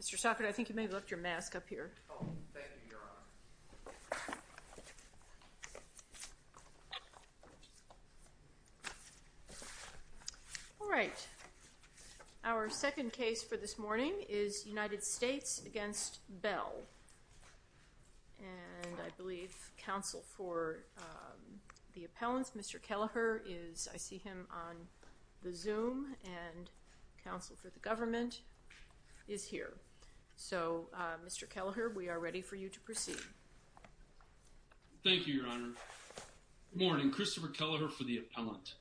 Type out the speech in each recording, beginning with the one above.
Mr. Sockett, I think you may have left your mask up here. Oh, thank you, Your Honor. All right. Our second case for this morning is United States v. Bell. And I believe counsel for the appellants, Mr. Kelleher, is, I see him on the Zoom, and counsel for the government is here. So, Mr. Kelleher, we are ready for you to proceed. Thank you, Your Honor. Good morning. Christopher Kelleher for the appellant.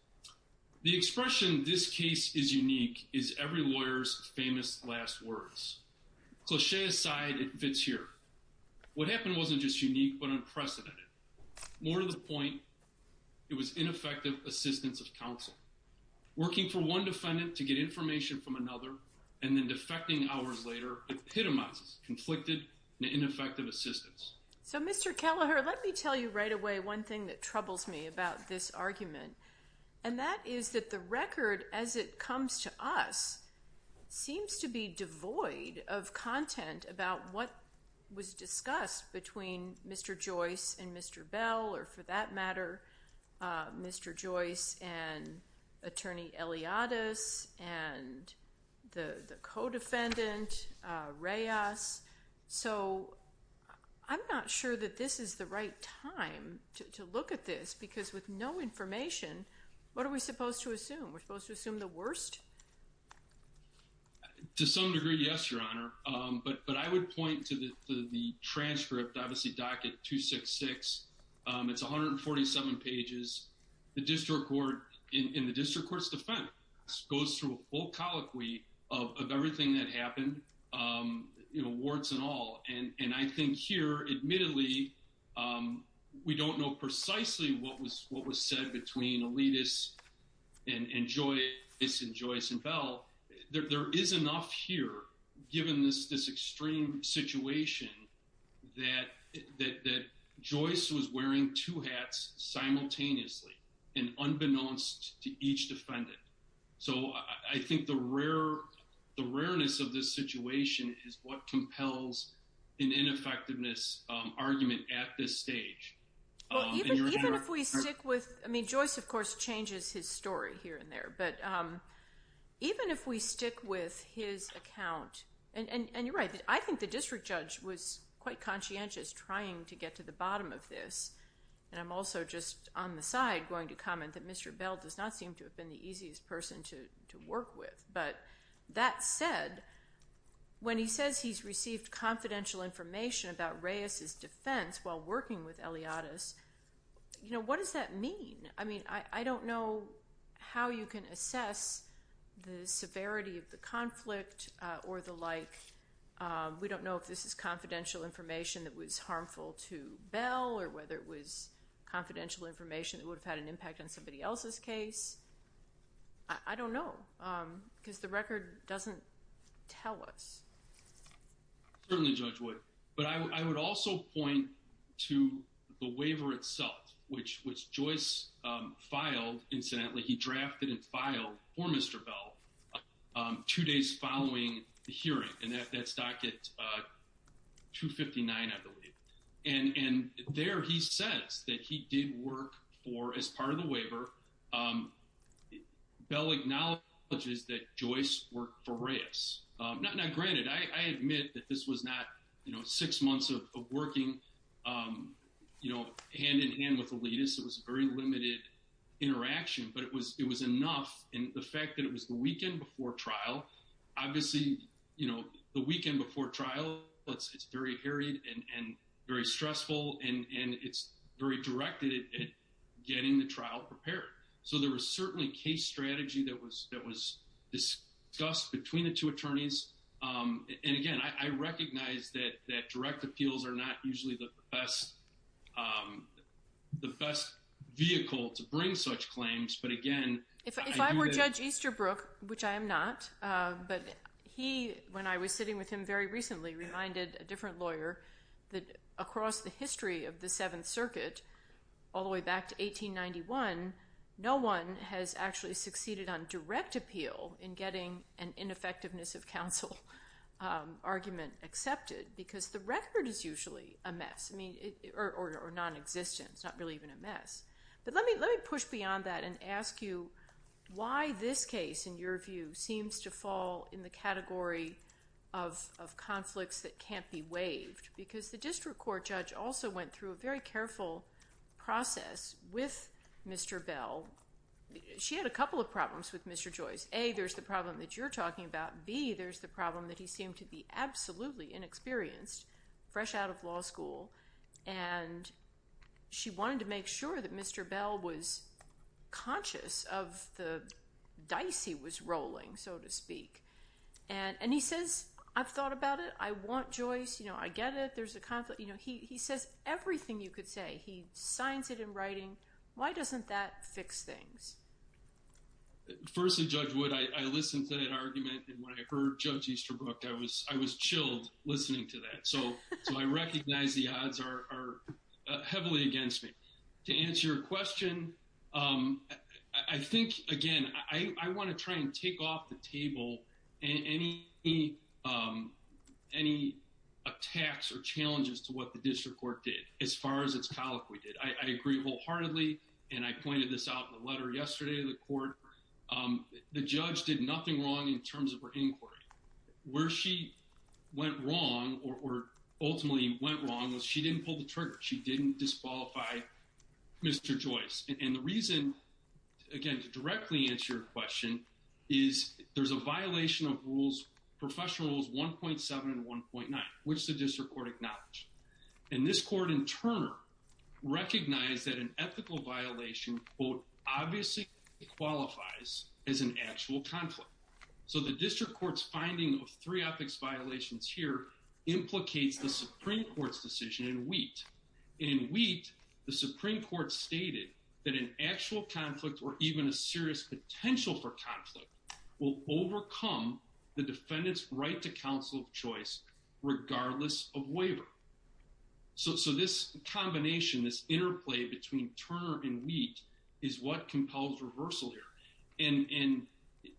The expression, this case is unique, is every lawyer's famous last words. Cliché aside, it fits here. What happened wasn't just unique, but unprecedented. More to the point, it was ineffective assistance of counsel. Working for one defendant to get information from another, and then defecting hours later, epitomizes conflicted and ineffective assistance. So, Mr. Kelleher, let me tell you right away one thing that troubles me about this argument. And that is that the record, as it comes to us, seems to be devoid of content about what was discussed between Mr. Joyce and Mr. Bell, or for that matter, Mr. Joyce and Attorney Eliadis, and the co-defendant, Reyes. So, I'm not sure that this is the right time to look at this, because with no information, what are we supposed to assume? We're supposed to assume the worst? To some degree, yes, Your Honor. But I would point to the transcript, obviously, docket 266. It's 147 pages. The district court, in the district court's defense, goes through a full colloquy of everything that happened, warts and all. And I think here, admittedly, we don't know precisely what was said between Eliadis and Joyce and Bell. There is enough here, given this extreme situation, that Joyce was wearing two hats simultaneously and unbeknownst to each defendant. So, I think the rareness of this situation is what compels an ineffectiveness argument at this stage. Even if we stick with, I mean, Joyce, of course, changes his story here and there. But even if we stick with his account, and you're right, I think the district judge was quite conscientious trying to get to the bottom of this. And I'm also just on the side going to comment that Mr. Bell does not seem to have been the easiest person to work with. But that said, when he says he's received confidential information about Reyes' defense while working with Eliadis, you know, what does that mean? I mean, I don't know how you can assess the severity of the conflict or the like. We don't know if this is confidential information that was harmful to Bell or whether it was confidential information that would have had an impact on somebody else's case. I don't know, because the record doesn't tell us. Certainly, Judge Wood. But I would also point to the waiver itself, which Joyce filed. Incidentally, he drafted and filed for Mr. Bell two days following the hearing. And that's docket 259, I believe. And there he says that he did work for, as part of the waiver, Bell acknowledges that Joyce worked for Reyes. Now, granted, I admit that this was not, you know, six months of working, you know, hand in hand with Eliadis. It was very limited interaction, but it was enough. And the fact that it was the weekend before trial, obviously, you know, the weekend before trial, it's very harried and very stressful and it's very directed at getting the trial prepared. So there was certainly case strategy that was discussed between the two attorneys. And again, I recognize that direct appeals are not usually the best vehicle to bring such claims. If I were Judge Easterbrook, which I am not, but he, when I was sitting with him very recently, reminded a different lawyer that across the history of the Seventh Circuit, all the way back to 1891, no one has actually succeeded on direct appeal in getting an ineffectiveness of counsel argument accepted. Because the record is usually a mess, I mean, or nonexistent, it's not really even a mess. But let me push beyond that and ask you why this case, in your view, seems to fall in the category of conflicts that can't be waived. Because the district court judge also went through a very careful process with Mr. Bell. She had a couple of problems with Mr. Joyce. A, there's the problem that you're talking about. B, there's the problem that he seemed to be absolutely inexperienced, fresh out of law school. And she wanted to make sure that Mr. Bell was conscious of the dice he was rolling, so to speak. And he says, I've thought about it. I want Joyce. I get it. There's a conflict. He says everything you could say. He signs it in writing. Why doesn't that fix things? First of all, Judge Wood, I listened to that argument, and when I heard Judge Easterbrook, I was chilled listening to that. So I recognize the odds are heavily against me. To answer your question, I think, again, I want to try and take off the table any attacks or challenges to what the district court did, as far as its colloquy did. I agree wholeheartedly, and I pointed this out in the letter yesterday to the court. The judge did nothing wrong in terms of her inquiry. Where she went wrong, or ultimately went wrong, was she didn't pull the trigger. She didn't disqualify Mr. Joyce. And the reason, again, to directly answer your question, is there's a violation of rules, professional rules 1.7 and 1.9, which the district court acknowledged. And this court, in turn, recognized that an ethical violation, quote, obviously qualifies as an actual conflict. So the district court's finding of three ethics violations here implicates the Supreme Court's decision in Wheat. And in Wheat, the Supreme Court stated that an actual conflict, or even a serious potential for conflict, will overcome the defendant's right to counsel of choice regardless of waiver. So this combination, this interplay between Turner and Wheat is what compels reversal here. And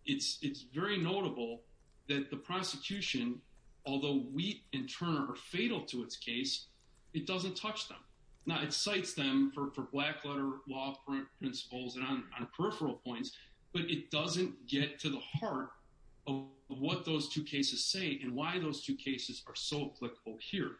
it's very notable that the prosecution, although Wheat and Turner are fatal to its case, it doesn't touch them. Now, it cites them for black letter law principles and on peripheral points, but it doesn't get to the heart of what those two cases say and why those two cases are so applicable here.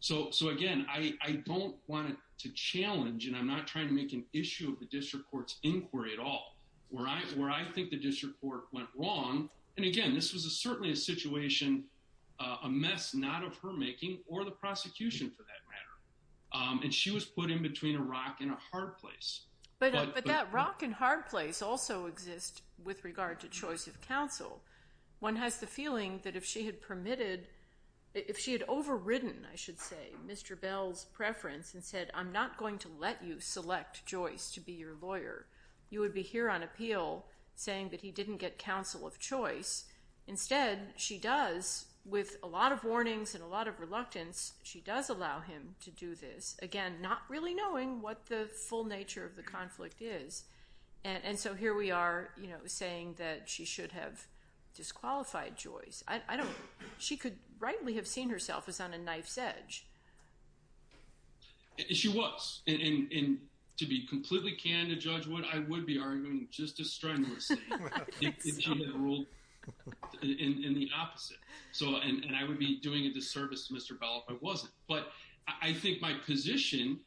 So again, I don't want to challenge, and I'm not trying to make an issue of the district court's inquiry at all, where I think the district court went wrong. And again, this was certainly a situation, a mess not of her making or the prosecution for that matter. And she was put in between a rock and a hard place. But that rock and hard place also exists with regard to choice of counsel. One has the feeling that if she had permitted, if she had overridden, I should say, Mr. Bell's preference and said, I'm not going to let you select Joyce to be your lawyer, you would be here on appeal saying that he didn't get counsel of choice. Instead, she does, with a lot of warnings and a lot of reluctance, she does allow him to do this. Again, not really knowing what the full nature of the conflict is. And so here we are saying that she should have disqualified Joyce. I don't, she could rightly have seen herself as on a knife's edge. She was. And to be completely candid, Judge Wood, I would be arguing just as strongly as you. If she had ruled in the opposite. And I would be doing a disservice to Mr. Bell if I wasn't. But I think my position,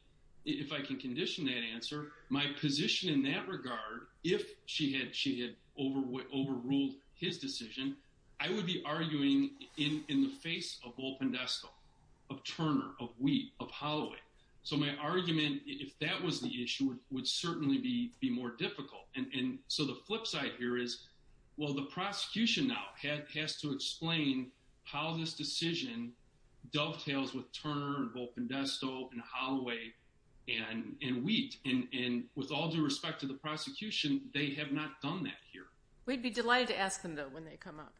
if I can condition that answer, my position in that regard, if she had overruled his decision, I would be arguing in the face of Bull Pendesco, of Turner, of Wheat, of Holloway. So my argument, if that was the issue, would certainly be more difficult. And so the flip side here is, well, the prosecution now has to explain how this decision dovetails with Turner, and Bull Pendesco, and Holloway, and Wheat. And with all due respect to the prosecution, they have not done that here. We'd be delighted to ask them, though, when they come up.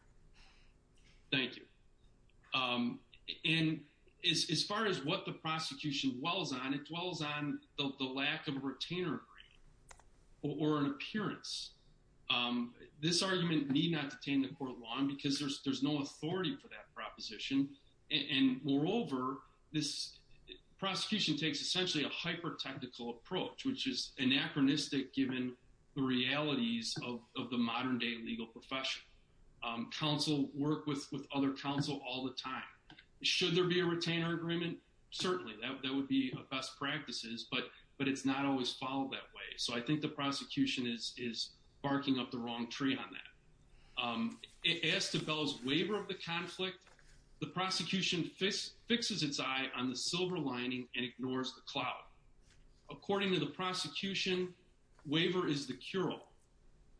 Thank you. And as far as what the prosecution dwells on, it dwells on the lack of a retainer agreement. Or an appearance. This argument need not detain the court long, because there's no authority for that proposition. And moreover, this prosecution takes essentially a hyper-technical approach, which is anachronistic given the realities of the modern-day legal profession. Counsel work with other counsel all the time. Should there be a retainer agreement? Certainly. That would be best practices, but it's not always followed that way. So I think the prosecution is barking up the wrong tree on that. As to Bell's waiver of the conflict, the prosecution fixes its eye on the silver lining and ignores the cloud. According to the prosecution, waiver is the cure-all.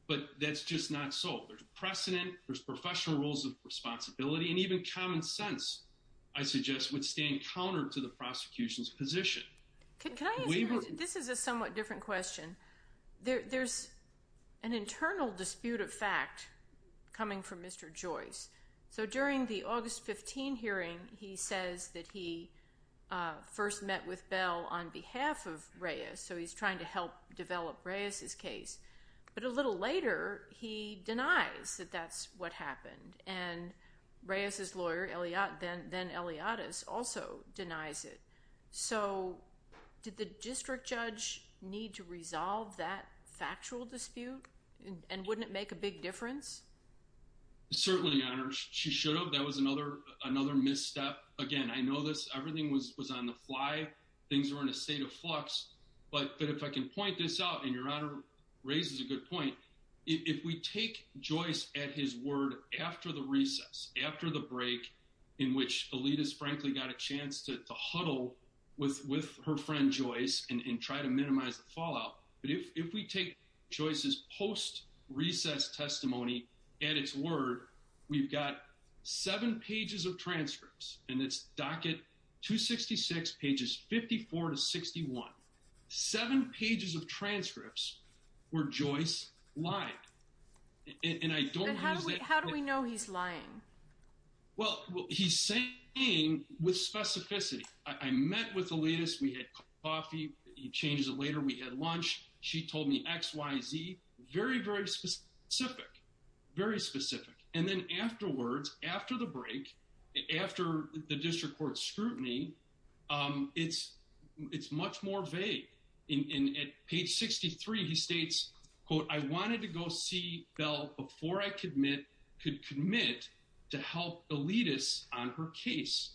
But that's just not so. There's precedent, there's professional rules of responsibility, and even common sense, I suggest, would stand counter to the prosecution's position. This is a somewhat different question. There's an internal dispute of fact coming from Mr. Joyce. So during the August 15 hearing, he says that he first met with Bell on behalf of Reyes, so he's trying to help develop Reyes's case. But a little later, he denies that that's what happened. And Reyes's lawyer, then Eliottis, also denies it. So did the district judge need to resolve that factual dispute? And wouldn't it make a big difference? Certainly, Your Honor. She should have. That was another misstep. Again, I know this. Everything was on the fly. Things were in a state of flux. But if I can point this out, and Your Honor raises a good point, if we take Joyce at his word after the recess, after the break in which Eliottis, frankly, got a chance to huddle with her friend Joyce and try to minimize the fallout, if we take Joyce's post-recess testimony at its word, we've got seven pages of transcripts. And it's docket 266, pages 54 to 61. Seven pages of transcripts where Joyce lied. How do we know he's lying? Well, he's saying with specificity. I met with Eliottis. We had coffee. He changes it later. We had lunch. She told me X, Y, Z. Very, very specific. Very specific. And then afterwards, after the break, after the district court scrutiny, it's much more vague. And at page 63, he states, quote, I wanted to go see Belle before I could commit to help Eliottis on her case.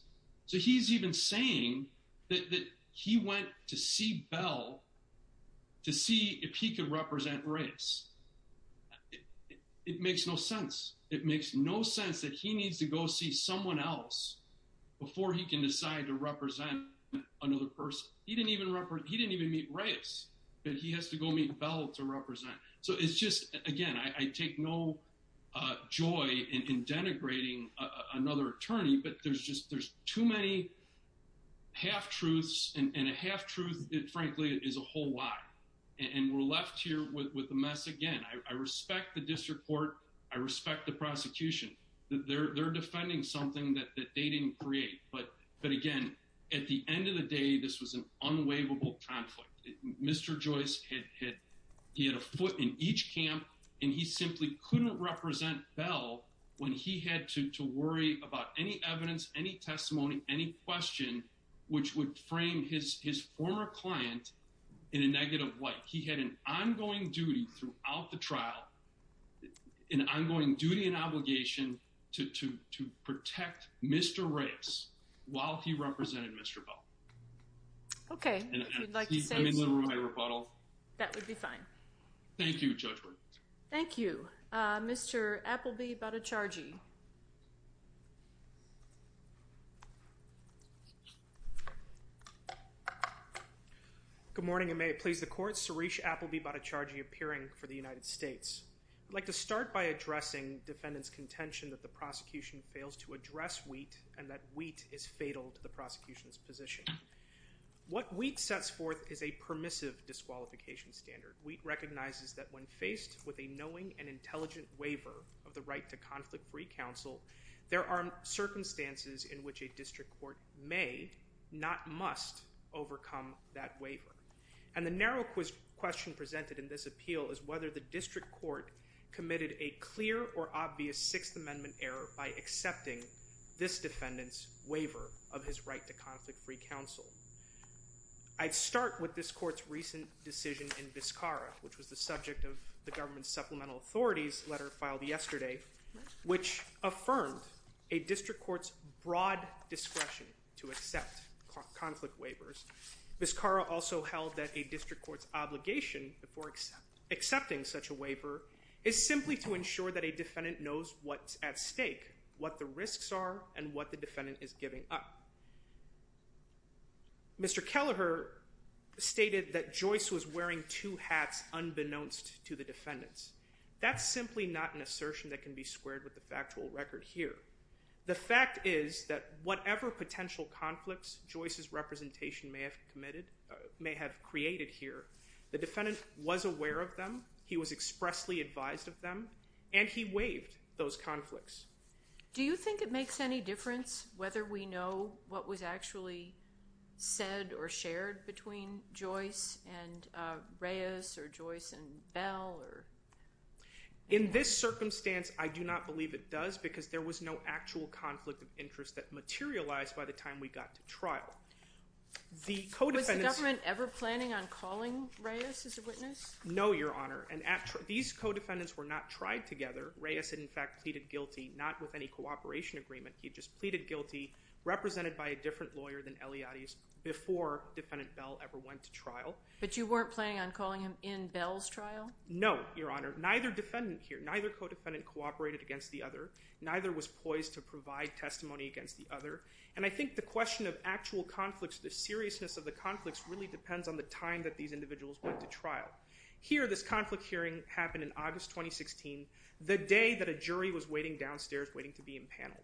So he's even saying that he went to see Belle to see if he could represent Reyes. It makes no sense. It makes no sense that he needs to go see someone else before he can decide to represent another person. He didn't even meet Reyes, but he has to go meet Belle to represent. So it's just, again, I take no joy in denigrating another attorney, but there's just too many half-truths. And a half-truth, frankly, is a whole lie. And we're left here with a mess again. I respect the district court. I respect the prosecution. They're defending something that they didn't create. But again, at the end of the day, this was an unwaverable conflict. Mr. Joyce, he had a foot in each camp, and he simply couldn't represent Belle when he had to worry about any evidence, any testimony, any question, which would frame his former client in a negative light. He had an ongoing duty throughout the trial, an ongoing duty and obligation to protect Mr. Reyes while he represented Mr. Belle. Okay, if you'd like to say something. That would be fine. Thank you, Judge Brewer. Thank you. Mr. Appleby-Battacargi. Good morning, and may it please the Court. Suresh Appleby-Battacargi, appearing for the United States. I'd like to start by addressing defendant's contention that the prosecution fails to address Wheat, and that Wheat is fatal to the prosecution's position. What Wheat sets forth is a permissive disqualification standard. Wheat recognizes that when faced with a knowing and intelligent waiver of the right to conflict-free counsel, there are circumstances in which a district court may, not must, overcome that waiver. And the narrow question presented in this appeal is whether the district court committed a clear or obvious Sixth Amendment error in accepting this defendant's waiver of his right to conflict-free counsel. I'd start with this Court's recent decision in Vizcarra, which was the subject of the government's supplemental authorities letter filed yesterday, which affirmed a district court's broad discretion to accept conflict waivers. Vizcarra also held that a district court's obligation before accepting such a waiver is simply to ensure that a defendant knows what's at stake, what the risks are, and what the defendant is giving up. Mr. Kelleher stated that Joyce was wearing two hats unbeknownst to the defendants. That's simply not an assertion that can be squared with the factual record here. The fact is that whatever potential conflicts Joyce's representation may have created here, the defendant was aware of them, he was expressly advised of them, and he waived those conflicts. Do you think it makes any difference whether we know what was actually said or shared between Joyce and Reyes or Joyce and Bell? In this circumstance, I do not believe it does because there was no actual conflict of interest that materialized by the time we got to trial. Was the government ever planning on calling Reyes as a witness? No, Your Honor. These co-defendants were not tried together. Reyes, in fact, pleaded guilty not with any cooperation agreement. He just pleaded guilty represented by a different lawyer than Eliade's before Defendant Bell ever went to trial. But you weren't planning on calling him in Bell's trial? No, Your Honor. Neither defendant here, neither co-defendant cooperated against the other. Neither was poised to provide testimony against the other. And I think the question of actual conflicts, the seriousness of the conflicts, really depends on the time that these individuals went to trial. Here, this conflict hearing happened in August 2016, the day that a jury was waiting downstairs waiting to be impaneled.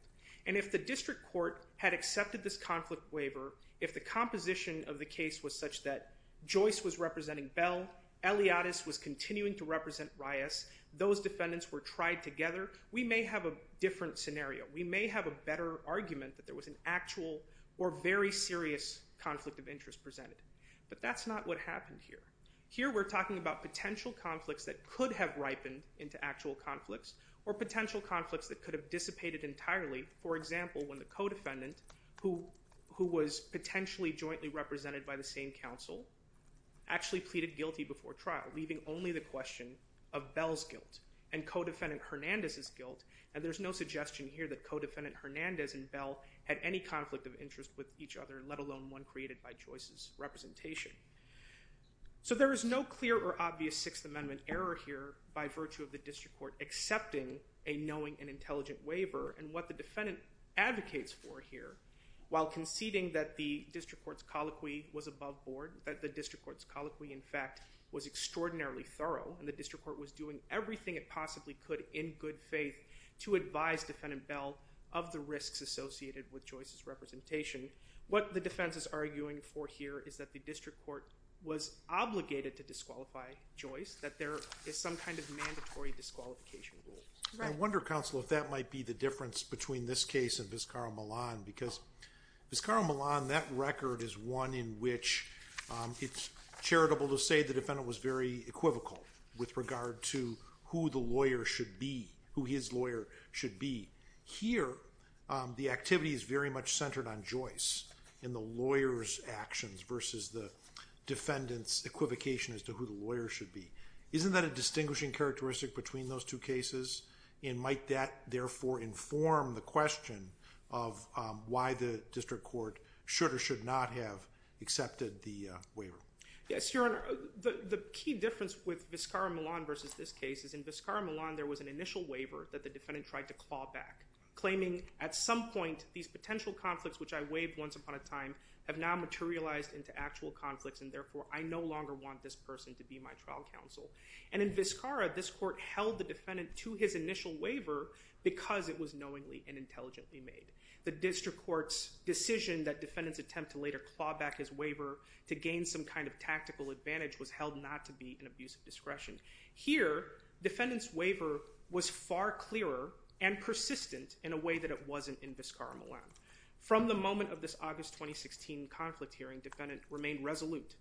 And if the district court had accepted this conflict waiver, if the composition of the case was such that Joyce was representing Bell, Eliade's was continuing to represent Reyes, those defendants were tried together, we may have a different scenario. We may have a better argument that there was an actual or very serious conflict of interest presented. But what happened here? Here we're talking about potential conflicts that could have ripened into actual conflicts or potential conflicts that could have dissipated entirely. For example, when the co-defendant who was potentially jointly represented by the same counsel actually pleaded guilty before trial leaving only the question of Bell's guilt and co-defendant Hernandez's guilt and there's no suggestion here had any conflict of interest with each other let alone one created by Joyce's representation. So there is no clear or obvious Sixth Amendment error here by virtue of the district court accepting a knowing and intelligent waiver and what the defendant advocates for here while conceding that the district court's colloquy was above board, that the district court's colloquy in fact was extraordinarily thorough and the district court was doing everything it possibly could in good faith to advise defendant Bell of the risks associated with Joyce's representation. What the defense is arguing for here is that the district court is obligated to disqualify Joyce that there is some kind of mandatory disqualification rule. I wonder, counsel, if that might be the difference between this case and Vizcarra-Millan because Vizcarra-Millan, that record is one in which it's charitable to say the defendant was very equivocal with regard to who the lawyer should be, Here, the activity is very much centered on Joyce in the lawyer's actions versus the defendant's equivocation as to who the lawyer should be. Isn't that a distinguishing characteristic between those two cases and might that therefore inform the question of why the district court should or should not have accepted the waiver? Yes, Your Honor. The key difference with Vizcarra-Millan versus this case is in Vizcarra-Millan there was an initial waiver that the defendant tried to claw back claiming at some point these potential conflicts would turn into actual conflicts and therefore I no longer want this person to be my trial counsel. And in Vizcarra this court held the defendant to his initial waiver because it was knowingly and intelligently made. The district court's decision that defendants attempt to later claw back his waiver to gain some kind of tactical advantage was held not to be an abuse of discretion. Here, defendant's waiver was far clearer and persistent in a way that it wasn't in Vizcarra-Millan. It remained resolute.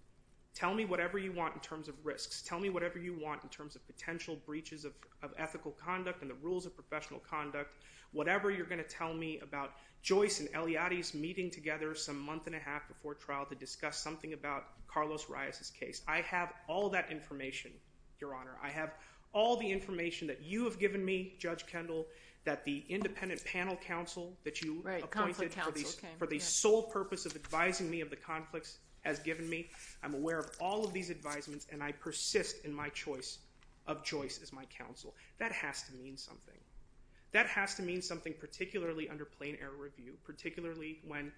Tell me whatever you want in terms of risks. Tell me whatever you want in terms of potential breaches of ethical conduct and the rules of professional conduct. Whatever you're going to tell me about Joyce and Eliade's meeting together some month and a half before trial to discuss something about Carlos Reyes' case. I have all that information, Your Honor. I have all the information that you have given me, Judge Kendall, that the independent panel counsel that you appointed for the sole purpose of this hearing has given me. I'm aware of all of these advisements and I persist in my choice of Joyce as my counsel. That has to mean something. That has to mean something particularly under plain error review, particularly when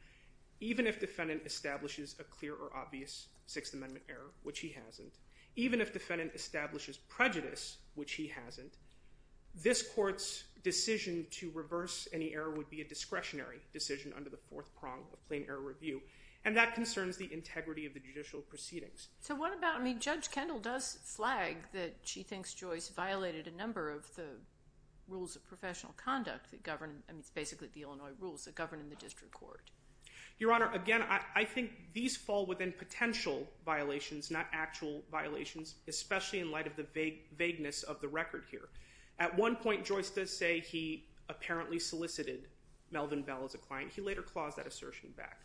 even if defendant establishes a clear or obvious Sixth Amendment error, which he hasn't, even if defendant establishes prejudice, which he hasn't, this court's decision to reverse any error would be a discretionary decision on the integrity of the judicial proceedings. So what about, I mean, Judge Kendall does flag that she thinks Joyce violated a number of the rules of professional conduct that govern, I mean, it's basically the Illinois rules that govern in the district court. Your Honor, again, I think these fall within potential violations, not actual violations, especially in light of the vagueness of the record here. At one point, Joyce does say he apparently solicited Melvin Bell as a client. He later claused that assertion back.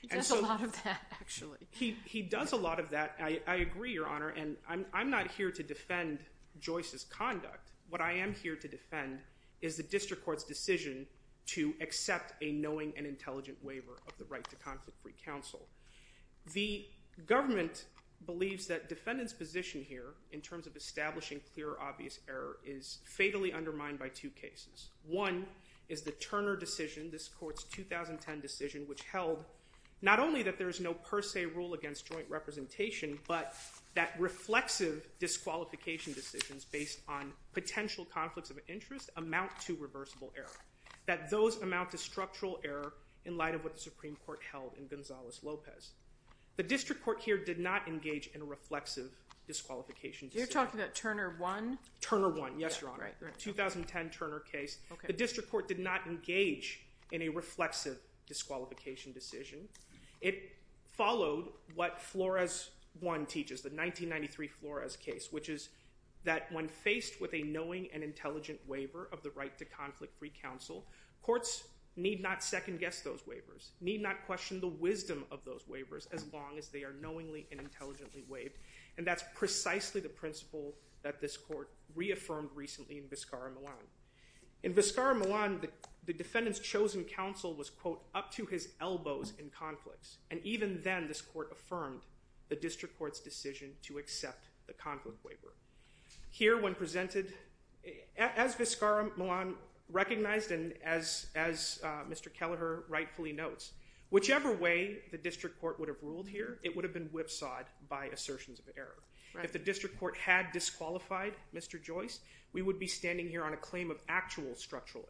He does a lot of that, actually. He does a lot of that. I agree, Your Honor, and I'm not here to defend Joyce's conduct. What I am here to defend is the district court's decision to accept a knowing and intelligent waiver of the right to conflict-free counsel. The government believes that defendant's position here in terms of establishing clear or obvious error is fatally undermined by two cases. One is the Turner decision, the Supreme Court's 2010 decision, which held not only that there is no per se rule against joint representation, but that reflexive disqualification decisions based on potential conflicts of interest amount to reversible error, that those amount to structural error in light of what the Supreme Court held in Gonzales-Lopez. The district court here did not engage in a reflexive disqualification decision. You're talking about Turner 1? Turner 1, yes, Your Honor. 2010 Turner case. It was a reflexive disqualification decision. It followed what Flores 1 teaches, the 1993 Flores case, which is that when faced with a knowing and intelligent waiver of the right to conflict-free counsel, courts need not second-guess those waivers, need not question the wisdom of those waivers as long as they are knowingly and intelligently waived, and that's precisely the principle that this court reaffirmed recently in Vizcarra-Milan. In Vizcarra-Milan, Mr. Joyce was, quote, up to his elbows in conflicts, and even then this court affirmed the district court's decision to accept the conflict waiver. Here when presented, as Vizcarra-Milan recognized and as Mr. Kelleher rightfully notes, whichever way the district court would have ruled here, it would have been whipsawed by assertions of error. If the district court had disqualified Mr. Joyce, we would be standing here on a claim of actual structural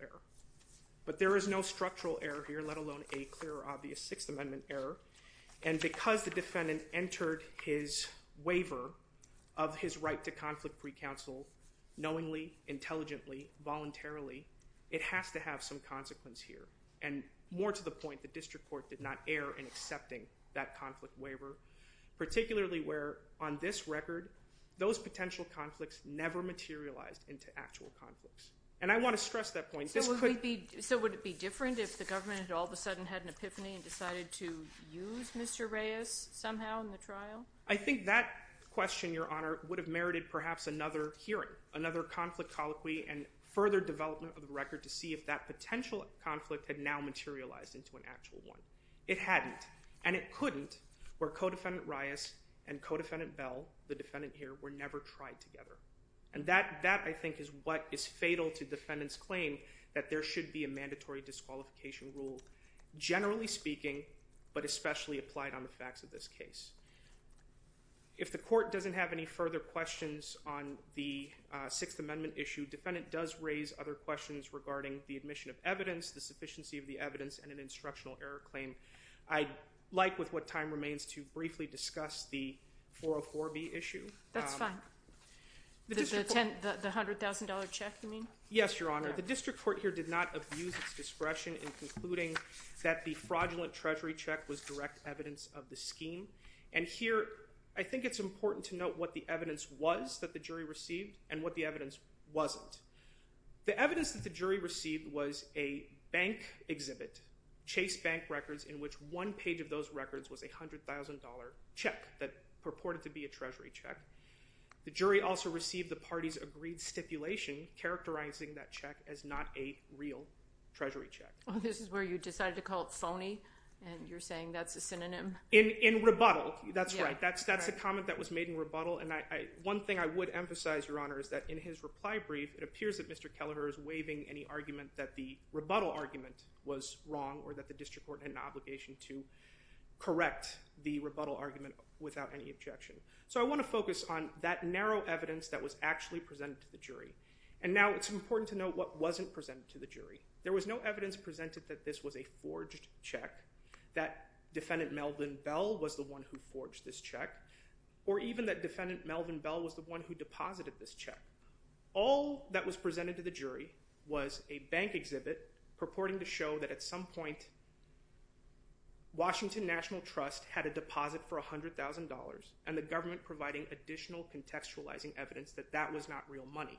error, let alone a clear or obvious Sixth Amendment error, and because the defendant entered his waiver of his right to conflict-free counsel knowingly, intelligently, voluntarily, it has to have some consequence here, and more to the point, the district court did not err in accepting that conflict waiver, particularly where on this record those potential conflicts never materialized into actual conflicts, and I want to stress that point. So would it be different if the district court all of a sudden had an epiphany and decided to use Mr. Reyes somehow in the trial? I think that question, Your Honor, would have merited perhaps another hearing, another conflict colloquy, and further development of the record to see if that potential conflict had now materialized into an actual one. It hadn't, and it couldn't where Codefendant Reyes and Codefendant Bell, the defendant here, were never tried together, and that I think is what is fatal generally speaking, but especially applied on the facts of this case. If the court doesn't have any further questions on the Sixth Amendment issue, defendant does raise other questions regarding the admission of evidence, the sufficiency of the evidence, and an instructional error claim. I'd like, with what time remains, to briefly discuss the 404B issue. That's fine. The $100,000 check, you mean? Yes, Your Honor. The district court here decided that the fraudulent treasury check was direct evidence of the scheme, and here I think it's important to note what the evidence was that the jury received and what the evidence wasn't. The evidence that the jury received was a bank exhibit, Chase Bank Records, in which one page of those records was a $100,000 check that purported to be a treasury check. The jury also received the party's agreed stipulation characterizing that check as a fraudulent treasury check. You decided to call it phony, and you're saying that's a synonym? In rebuttal, that's right. That's a comment that was made in rebuttal, and one thing I would emphasize, Your Honor, is that in his reply brief, it appears that Mr. Kelleher is waiving any argument that the rebuttal argument was wrong or that the district court had an obligation to correct the rebuttal argument without any objection. So I want to focus on that forged check, that Defendant Melvin Bell was the one who forged this check, or even that Defendant Melvin Bell was the one who deposited this check. All that was presented to the jury was a bank exhibit purporting to show that at some point Washington National Trust had a deposit for $100,000 and the government providing additional contextualizing evidence that that was not real money.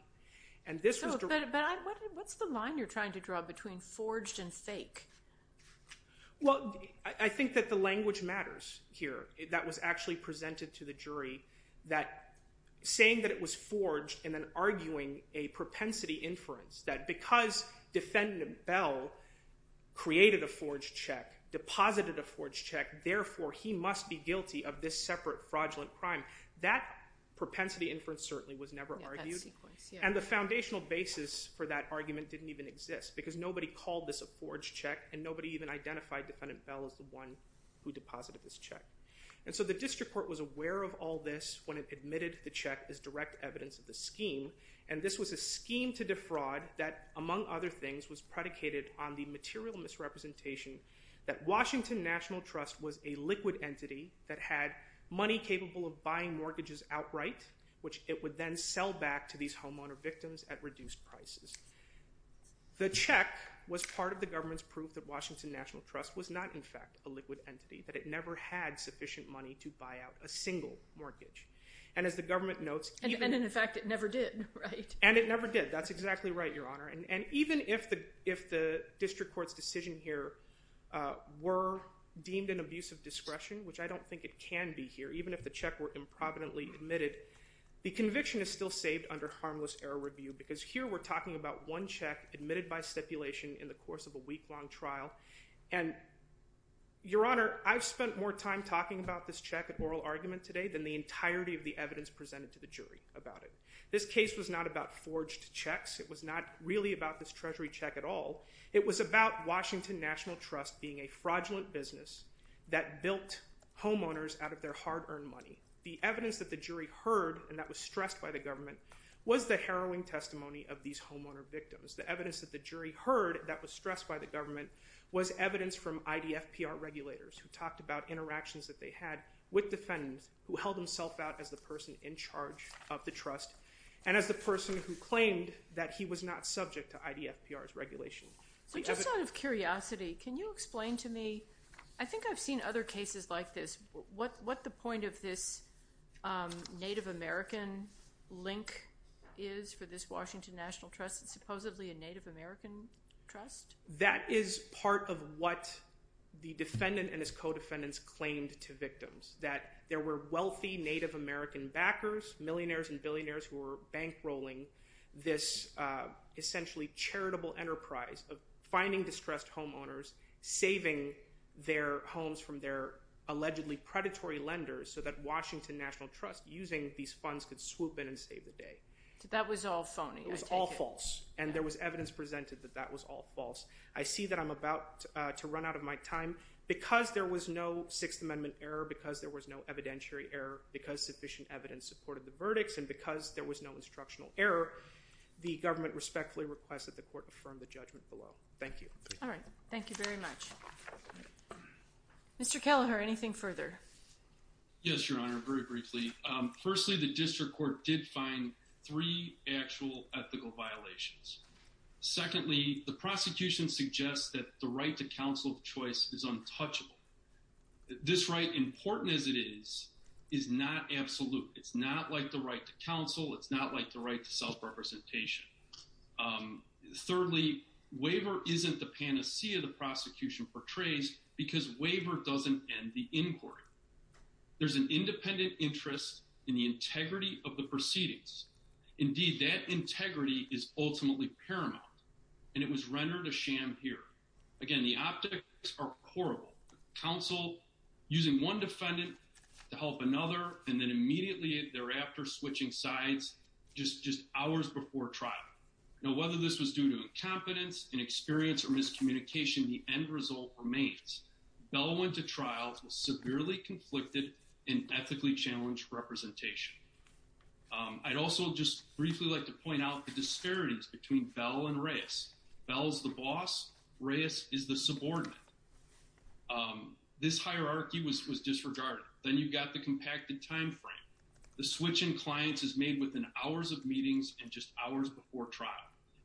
What's the line you're trying to draw between forged and fake? Well, I think that the language matters here. That was actually presented to the jury that saying that it was forged and then arguing a propensity inference that because Defendant Bell created a forged check, deposited a forged check, therefore he must be guilty of this separate fraudulent crime. That propensity inference certainly was never argued. And the foundational basis for that argument didn't even exist because nobody called this a forged check and nobody even identified Defendant Bell as the one who deposited this check. And so the district court was aware of all this when it admitted the check as direct evidence of the scheme. And this was a scheme to defraud that, among other things, was predicated on the material misrepresentation that Washington National Trust was a liquid entity that had money capable of buying mortgages outright, which it would then sell back to these homeowner victims whose check was part of the government's proof that Washington National Trust was not in fact a liquid entity, that it never had sufficient money to buy out a single mortgage. And as the government notes... And in fact it never did, right? And it never did. That's exactly right, Your Honor. And even if the district court's decision here were deemed an abuse of discretion, which I don't think it can be here, even if the check were improvidently admitted, the conviction is still saved under harmless error review and stipulation in the course of a week-long trial. And, Your Honor, I've spent more time talking about this check at oral argument today than the entirety of the evidence presented to the jury about it. This case was not about forged checks. It was not really about this treasury check at all. It was about Washington National Trust being a fraudulent business that built homeowners out of their hard-earned money. The evidence that the jury heard, and that was stressed by the government, was the harrowing testimony of IDFPR regulators who talked about interactions that they had with defendants who held themselves out as the person in charge of the trust and as the person who claimed that he was not subject to IDFPR's regulation. So just out of curiosity, can you explain to me, I think I've seen other cases like this, what the point of this Native American link is for this Washington National Trust that's supposedly a Native American link? That is part of what the defendant and his co-defendants claimed to victims. That there were wealthy Native American backers, millionaires and billionaires who were bankrolling this essentially charitable enterprise of finding distressed homeowners, saving their homes from their allegedly predatory lenders, so that Washington National Trust using these funds could swoop in and save the day. That was all phony. It was all false, it was all false. I see that I'm about to run out of my time. Because there was no Sixth Amendment error, because there was no evidentiary error, because sufficient evidence supported the verdicts, and because there was no instructional error, the government respectfully requests that the court affirm the judgment below. Thank you. All right, thank you very much. Mr. Kelleher, anything further? Yes, Your Honor, very briefly. Firstly, the district court did find three actual ethical violations. Secondly, the prosecution suggests that the right to counsel of choice is untouchable. This right, important as it is, is not absolute. It's not like the right to counsel, it's not like the right to self-representation. Thirdly, waiver isn't the panacea the prosecution portrays, because waiver doesn't end the inquiry. There's an independent interest in the integrity of the proceedings. Indeed, that integrity is ultimately paramount, and it was rendered a sham here. Again, the optics are horrible. Counsel using one defendant to help another, and then immediately thereafter switching sides, just hours before trial. Now, whether this was due to incompetence, inexperience, or miscommunication, the end result remains. Bellowen to trial was severely conflicted in ethically challenged representation. I'd also just briefly like to point out the disparities between Bell and Reyes. Bell's the boss, Reyes is the subordinate. This hierarchy was disregarded. Then you've got the compacted timeframe. The switch in clients is made within hours of meetings and just hours before trial.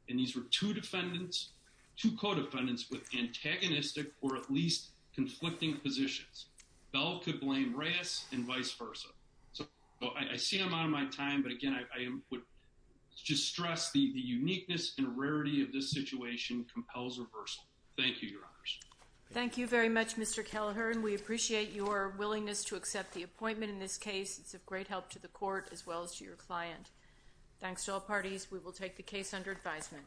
And these were two defendants, two co-defendants with antagonistic or at least conflicting positions. Bell could blame Reyes and vice versa. I see I'm out of my time, but again, I would just stress that the uniqueness and rarity of this situation compels reversal. Thank you, Your Honors. Thank you very much, Mr. Kelleher, and we appreciate your willingness to accept the appointment in this case. It's of great help to the court as well as to your client. Thanks to all parties. We will take the case under advisement.